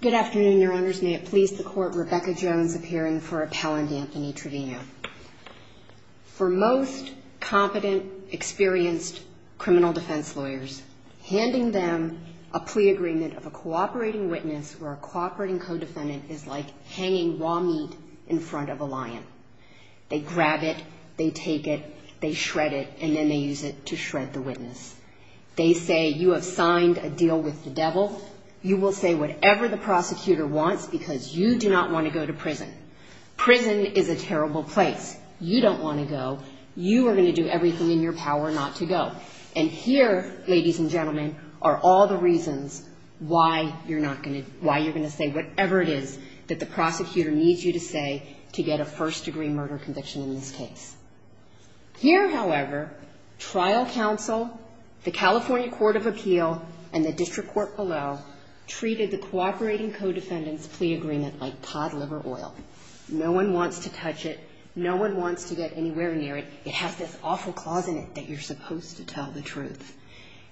Good afternoon, your honors. May it please the court, Rebecca Jones appearing for appellant Anthony Trevino. For most competent, experienced criminal defense lawyers, handing them a plea agreement of a cooperating witness or a cooperating co-defendant is like hanging raw meat in front of a lion. They grab it, they take it, they shred it, and then they use it to shred the witness. They say you have to say whatever the prosecutor wants because you do not want to go to prison. Prison is a terrible place. You don't want to go. You are going to do everything in your power not to go. And here, ladies and gentlemen, are all the reasons why you're not going to, why you're going to say whatever it is that the prosecutor needs you to say to get a first degree murder conviction in this case. Here, however, trial counsel, the California Court of Appeal, and the district court below treated the cooperating co-defendant's plea agreement like pot liver oil. No one wants to touch it. No one wants to get anywhere near it. It has this awful clause in it that you're supposed to tell the truth.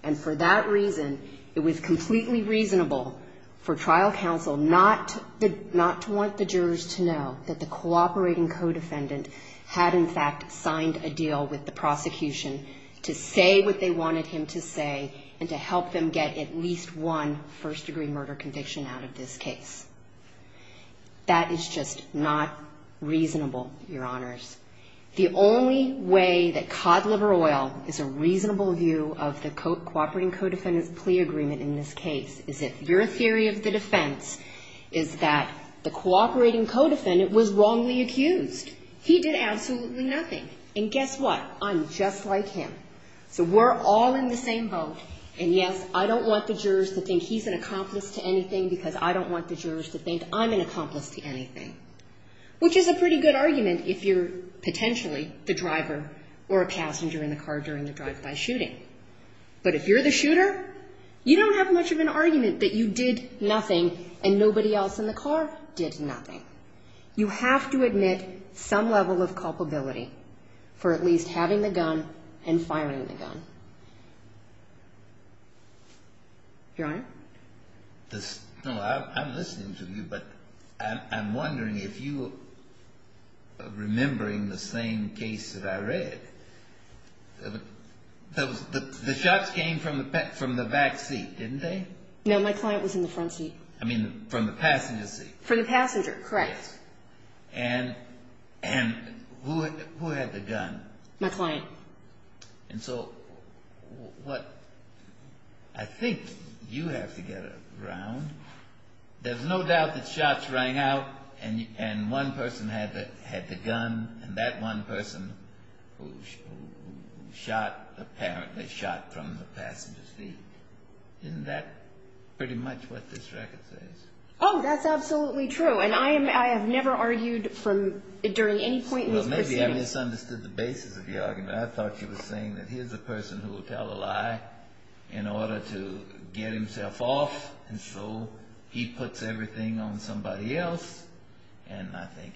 And for that reason, it was completely reasonable for trial counsel not to want the jurors to know that the cooperating co-defendant had in fact signed a deal with the prosecution to say what they wanted him to say and to help them get at least one first degree murder conviction out of this case. That is just not reasonable, your honors. The only way that pot liver oil is a reasonable view of the cooperating co-defendant's plea agreement in this case is if your theory of the defense is that the cooperating co-defendant was wrongly accused. He did absolutely nothing. And guess what? I'm just like him. So we're all in the same boat. And yes, I don't want the jurors to think he's an accomplice to anything because I don't want the jurors to think I'm an accomplice to anything, which is a pretty good argument if you're potentially the driver or a passenger in the car during the drive-by shooting. But if you're the shooter, you don't have much of an argument that you did nothing and nobody else in the car did nothing. You have to admit some level of dishonesty. Your honor? No, I'm listening to you, but I'm wondering if you remembering the same case that I read. The shots came from the back seat, didn't they? No, my client was in the front seat. I mean, from the passenger seat? From the passenger, correct. And who had the gun? My client. And so what I think you have to get around, there's no doubt that shots rang out and one person had the gun and that one person who shot apparently shot from the passenger's seat. Isn't that pretty much what this record says? Oh, that's absolutely true. And I have never argued from during any point in this proceeding. Maybe I misunderstood the basis of the argument. I thought you were saying that here's a person who will tell a lie in order to get himself off. And so he puts everything on somebody else. And I think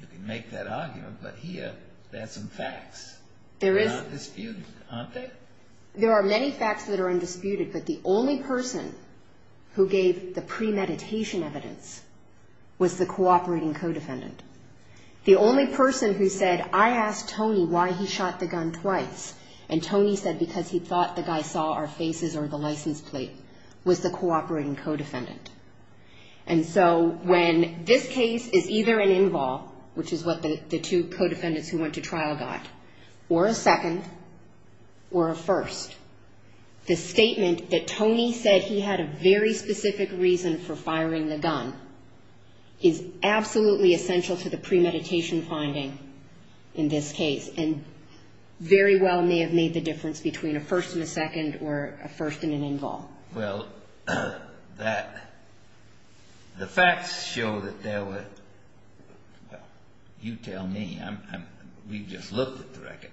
you can make that argument. But here, there's some facts. There are many facts that are undisputed, but the only person who gave the premeditation evidence was the cooperating co-defendant. The only person who said, I asked Tony why he shot the gun twice. And Tony said because he thought the guy saw our faces or the license plate was the cooperating co-defendant. And so when this case is either an involve, which is what the two co-defendants who went to trial got, or a second or a first, the statement that Tony said he had a very specific reason for firing the gun is absolutely essential to the premeditation finding in this case. And very well may have made the difference between a first and a second or a first and an involve. Well, the facts show that there were, well, you tell me. We've just looked at the record.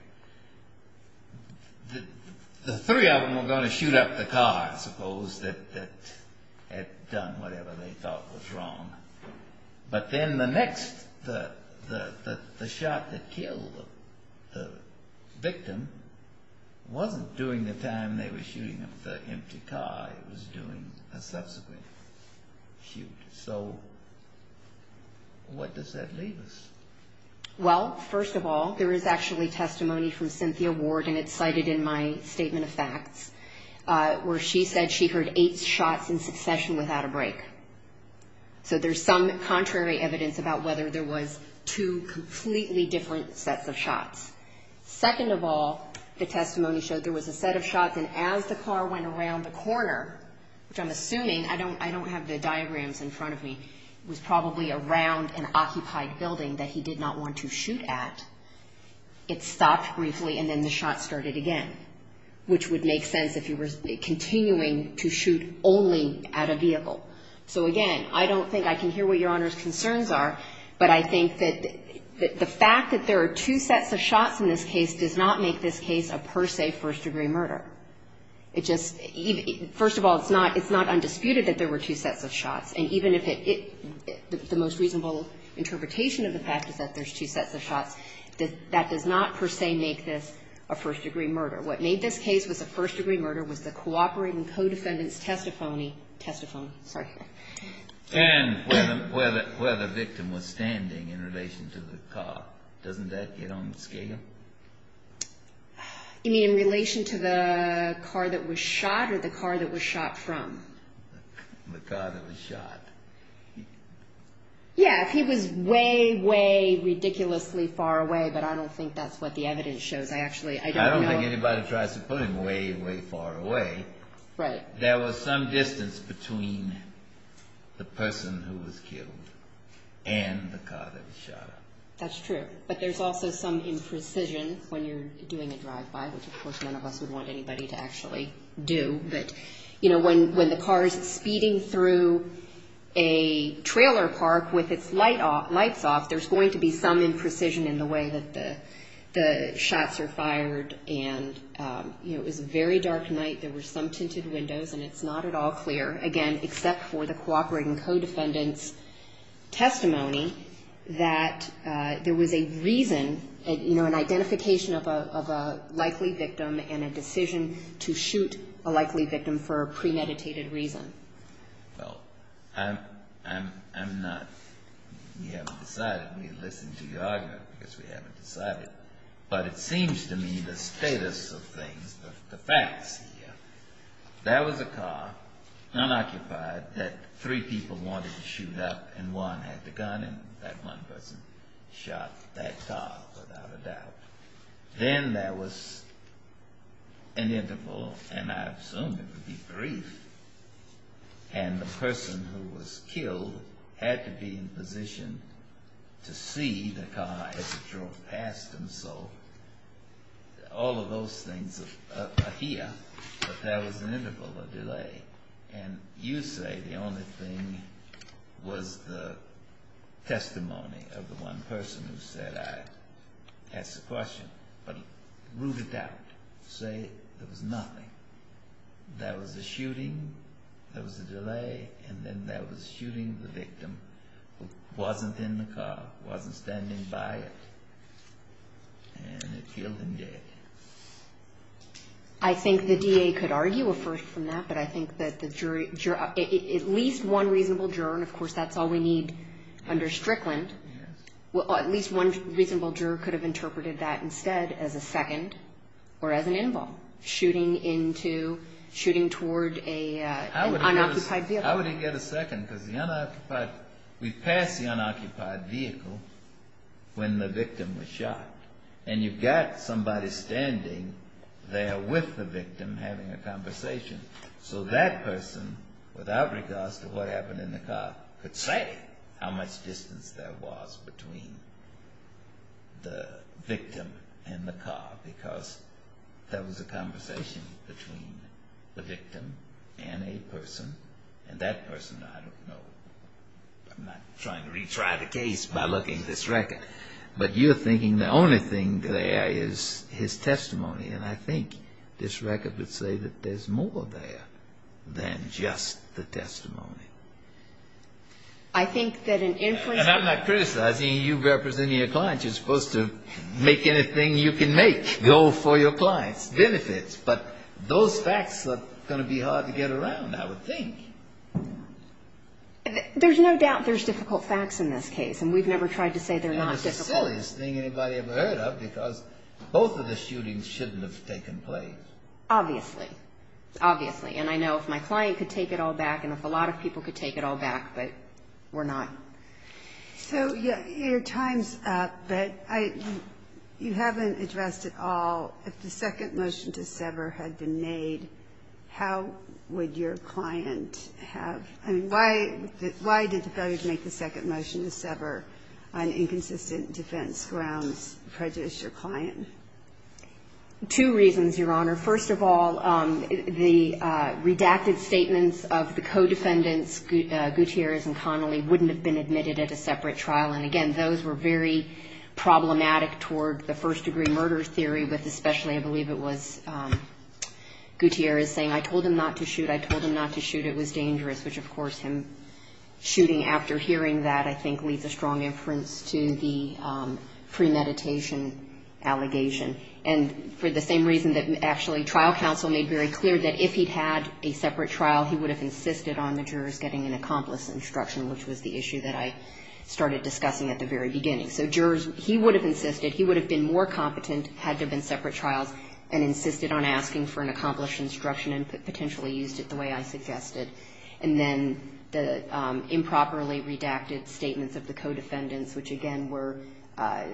The three of them were going to shoot up the car, I suppose, that had done whatever they thought was wrong. But then the next, the shot that killed the victim wasn't during the time they were shooting up the empty car. It was during a subsequent shoot. So what does that leave us? Well, first of all, there is actually testimony from Cynthia Ward, and it's said she heard eight shots in succession without a break. So there's some contrary evidence about whether there was two completely different sets of shots. Second of all, the testimony showed there was a set of shots, and as the car went around the corner, which I'm assuming, I don't have the diagrams in front of me, was probably around an occupied building that he did not want to shoot at. It stopped briefly, and then the shot started again, which would make sense if he was continuing to shoot only at a vehicle. So again, I don't think I can hear what Your Honor's concerns are, but I think that the fact that there are two sets of shots in this case does not make this case a per se first degree murder. It just, first of all, it's not undisputed that there were two sets of shots. And even if it, the most reasonable interpretation of the fact is that there's two sets of shots, that does not per se make this a first degree murder. What made this case was a first degree murder was the cooperating co-defendants' testifony, testifony, sorry. And where the victim was standing in relation to the car. Doesn't that get on the scale? You mean in relation to the car that was shot, or the car that was shot from? The car that was shot. Yeah, if he was way, way ridiculously far away, but I don't think that's what the evidence shows. I actually, I don't know. Anybody tries to put him way, way far away, there was some distance between the person who was killed and the car that was shot. That's true. But there's also some imprecision when you're doing a drive-by, which of course none of us would want anybody to actually do. But, you know, when the car is speeding through a trailer park with its lights off, there's going to be some imprecision in the way that the shots are fired and, you know, it was a very dark night. There were some tinted windows and it's not at all clear, again, except for the cooperating co-defendants' testimony that there was a reason, you know, an identification of a likely victim and a decision to shoot a likely victim for a premeditated reason. Well, I'm not, we haven't decided. We listened to your argument because we haven't decided. But it seems to me the status of things, the facts here, there was a car, unoccupied, that three people wanted to shoot up and one had the gun and that one person shot that car without a doubt. Then there was an debrief and the person who was killed had to be in position to see the car as it drove past him. So all of those things are here, but there was an interval of delay. And you say the only thing was the testimony of the one person who said, I ask the question, but root it out, say it was nothing. That was the shooting, that was the delay, and then that was shooting the victim who wasn't in the car, wasn't standing by it, and it killed him dead. I think the DA could argue a further from that, but I think that the jury, at least one reasonable juror, and of course that's all we need under Strickland, at least one reasonable juror could have interpreted that instead as a second, or as an interval, shooting into, shooting toward an unoccupied vehicle. I wouldn't get a second because the unoccupied, we passed the unoccupied vehicle when the victim was shot, and you've got somebody standing there with the victim having a conversation. So that person, without regards to what the victim in the car, because that was a conversation between the victim and a person, and that person, I don't know, I'm not trying to retry the case by looking at this record, but you're thinking the only thing there is his testimony, and I think this record would say that there's more there than just the testimony. I think that an influence... And I'm not criticizing you representing your client. You're supposed to make anything you can make go for your client's benefits, but those facts are going to be hard to get around, I would think. There's no doubt there's difficult facts in this case, and we've never tried to say they're not difficult. And it's the silliest thing anybody ever heard of, because both of the shootings shouldn't have taken place. Obviously. Obviously. And I know if my client could take it all back, and if a victim could take it all back, but we're not. So your time's up, but you haven't addressed at all, if the second motion to sever had been made, how would your client have... I mean, why did the failure to make the second motion to sever on inconsistent defense grounds prejudice your client? Two reasons, Your Honor. First of all, the redacted statements of the co-defendants, Gutierrez and Connolly, wouldn't have been admitted at a separate trial, and again, those were very problematic toward the first-degree murder theory, with especially, I believe it was Gutierrez saying, I told him not to shoot. I told him not to shoot. It was dangerous. Which, of course, him shooting after hearing that, I think, leaves a strong inference to the premeditation allegation. And for the same reason that actually trial counsel made very clear that if he'd had a separate trial, he would have insisted on the jurors getting an accomplished instruction, which was the issue that I started discussing at the very beginning. So jurors, he would have insisted, he would have been more competent, had there been separate trials, and insisted on asking for an accomplished instruction and potentially used it the way I suggested. And then the improperly redacted statements of the co-defendants, which again were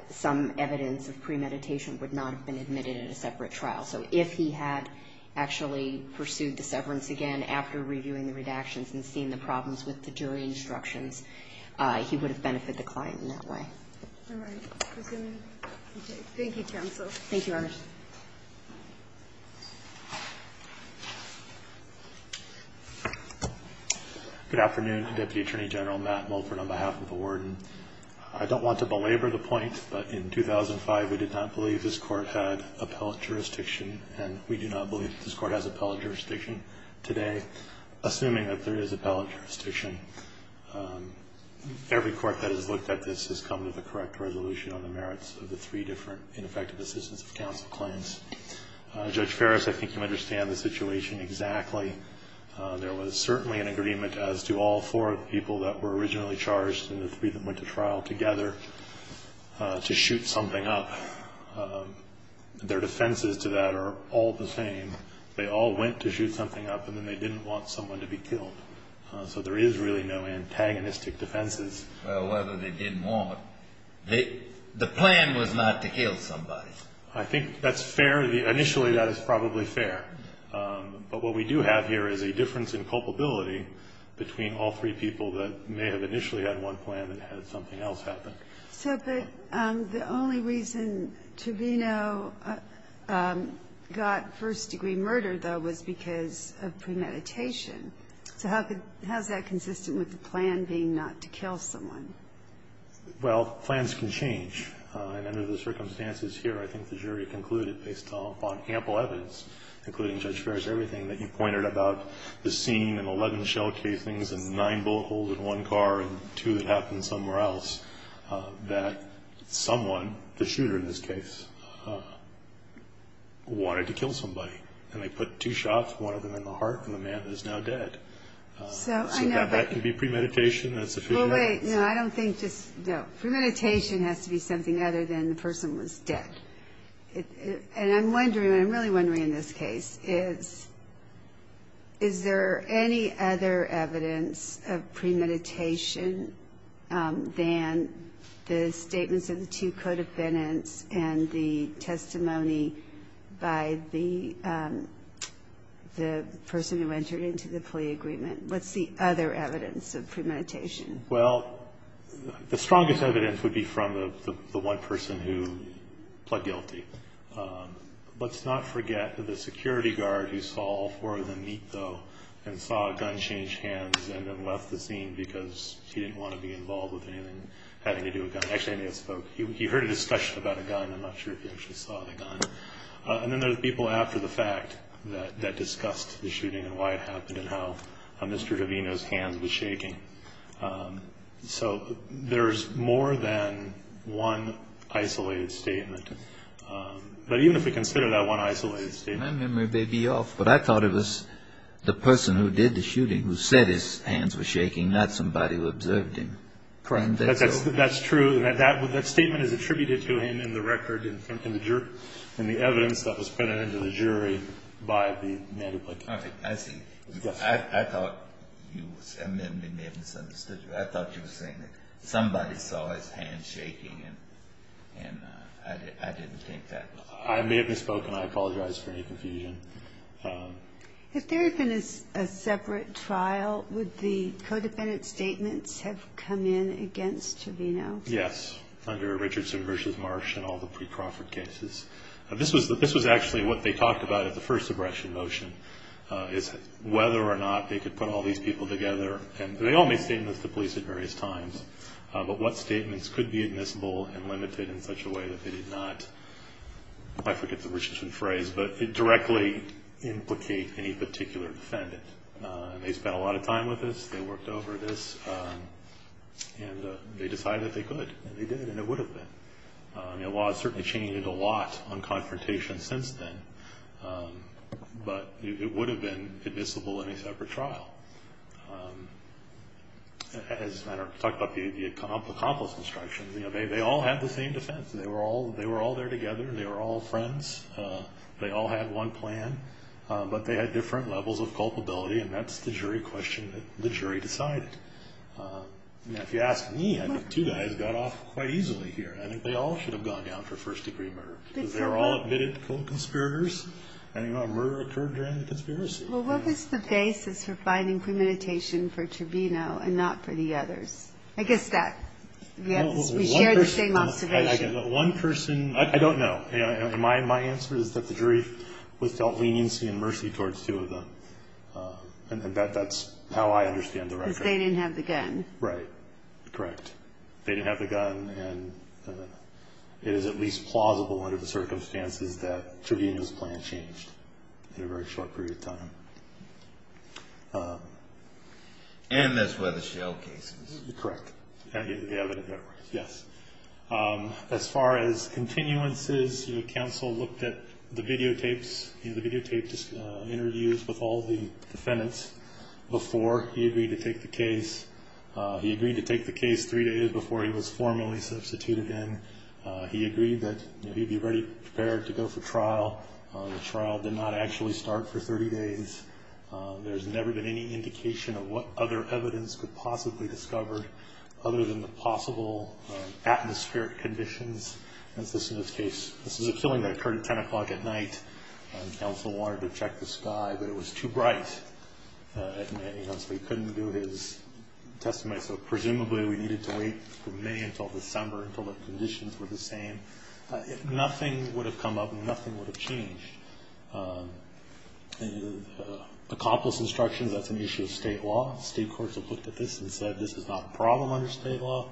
some evidence of premeditation, would not have been admitted at a separate trial. So if he had actually pursued the severance again after reviewing the redactions and seeing the problems with the jury instructions, he would have benefited the client in that way. All right. Thank you, counsel. Thank you, Your Honor. Good afternoon. Deputy Attorney General Matt Mulford on behalf of the warden. I don't want to belabor the point, but in 2005, we did not believe this Court had appellate jurisdiction, and we do not believe that this Court has appellate jurisdiction today, assuming that there is appellate jurisdiction. Every court that has looked at this has come to the correct resolution on the merits of the three different ineffective assistance of counsel claims. Judge Ferris, I think you understand the situation exactly. There was certainly an agreement as to all four people that were originally charged and the three that went to trial together to shoot something up. Their defenses to that are all the same. They all went to shoot something up, and then they didn't want someone to be killed. So there is really no antagonistic defenses. Well, whether they didn't want, the plan was not to kill somebody. I think that's fair. Initially, that is probably fair. But what we do have here is a difference in culpability between all three people that may have initially had one plan and had something else happen. But the only reason Tovino got first-degree murdered, though, was because of premeditation. So how is that consistent with the plan being not to kill someone? Well, plans can change. And under the circumstances here, I think the jury concluded, based on ample evidence, including, Judge Ferris, everything that you pointed about, the scene and 11 shell casings and nine bullet holes in one car and two that happened somewhere else, that someone, the shooter in this case, wanted to kill somebody. And they put two shots, one of them in the heart of the man that is now dead. So that can be premeditation. No, premeditation has to be something other than the person was dead. And I'm wondering, and I'm really wondering in this case, is there any other evidence of premeditation than the statements of the two codependents and the testimony by the person who entered into the plea agreement? What's the other evidence of premeditation? Well, the strongest evidence would be from the one person who pled guilty. Let's not forget the security guard who saw four of them meet, though, and saw a gun change hands and then left the scene because he didn't want to be involved with anything having to do with guns. Actually, I may have spoke. He heard a discussion about a gun. I'm not sure if he actually saw the gun. And then there's people after the fact that discussed the shooting and why it happened and how Mr. Davino's hands were shaking. So there's more than one isolated statement. But even if we consider that one isolated statement. My memory may be off, but I thought it was the person who did the shooting who said his hands were shaking, not somebody who observed him. That's true. That statement is attributed to him in the record, in the evidence that was printed into the jury by the man who pled guilty. All right. I see. I thought you said my memory may have misunderstood you. I thought you were saying that somebody saw his hands shaking, and I didn't think that. I may have misspoken. I apologize for any confusion. If there had been a separate trial, would the co-defendant's statements have come in against Davino? Yes, under Richardson v. Marsh and all the pre-Crawford cases. This was actually what they talked about at the first suppression motion, is whether or not they could put all these people together. And they all made statements to police at various times. But what statements could be admissible and limited in such a way that they did not, I forget the Richardson phrase, but directly implicate any particular defendant. They spent a lot of time with this. They worked over this. And they decided that they could. And they did, and it would have been. The law has certainly changed a lot on confrontations since then. But it would have been admissible in a separate trial. As I talked about the accomplice instructions, they all had the same defense. They were all there together. They were all friends. They all had one plan. But they had different levels of culpability, and that's the jury question that the jury decided. If you ask me, I think two guys got off quite easily here. I think they all should have gone down for first-degree murder. Because they were all admitted co-conspirators. And the murder occurred during the conspiracy. Well, what was the basis for finding premeditation for Trevino and not for the others? I guess that we share the same observation. One person, I don't know. My answer is that the jury was dealt leniency and mercy towards two of them. And that's how I understand the record. Because they didn't have the gun. Right. Correct. They didn't have the gun, and it is at least plausible under the circumstances that Trevino's plan changed in a very short period of time. And that's where the shell case is. Correct. Yes. As far as continuances, the counsel looked at the videotapes, the videotape interviews with all the defendants before he agreed to take the case. He agreed to take the case three days before he was formally substituted in. He agreed that he'd be ready, prepared to go for trial. The trial did not actually start for 30 days. There's never been any indication of what other evidence could possibly be discovered other than the possible atmospheric conditions. This is a killing that occurred at 10 o'clock at night. The counsel wanted to check the sky, but it was too bright. He honestly couldn't do his testimony. So presumably we needed to wait from May until December until the conditions were the same. If nothing would have come up, nothing would have changed. Accomplice instructions, that's an issue of state law. State courts have looked at this and said this is not a problem under state law.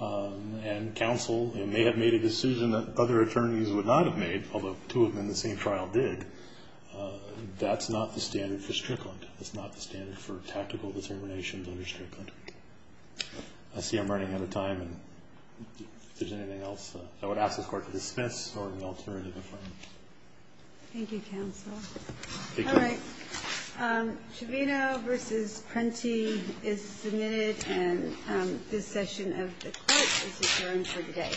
And counsel may have made a decision that other attorneys would not have made, although two of them in the same trial did. That's not the standard for Strickland. That's not the standard for tactical determinations under Strickland. I see I'm running out of time. If there's anything else I would ask this Court to dismiss or an alternative if I may. Thank you, counsel. All right. Chavino v. Prenti is submitted, and this session of the Court is adjourned for today.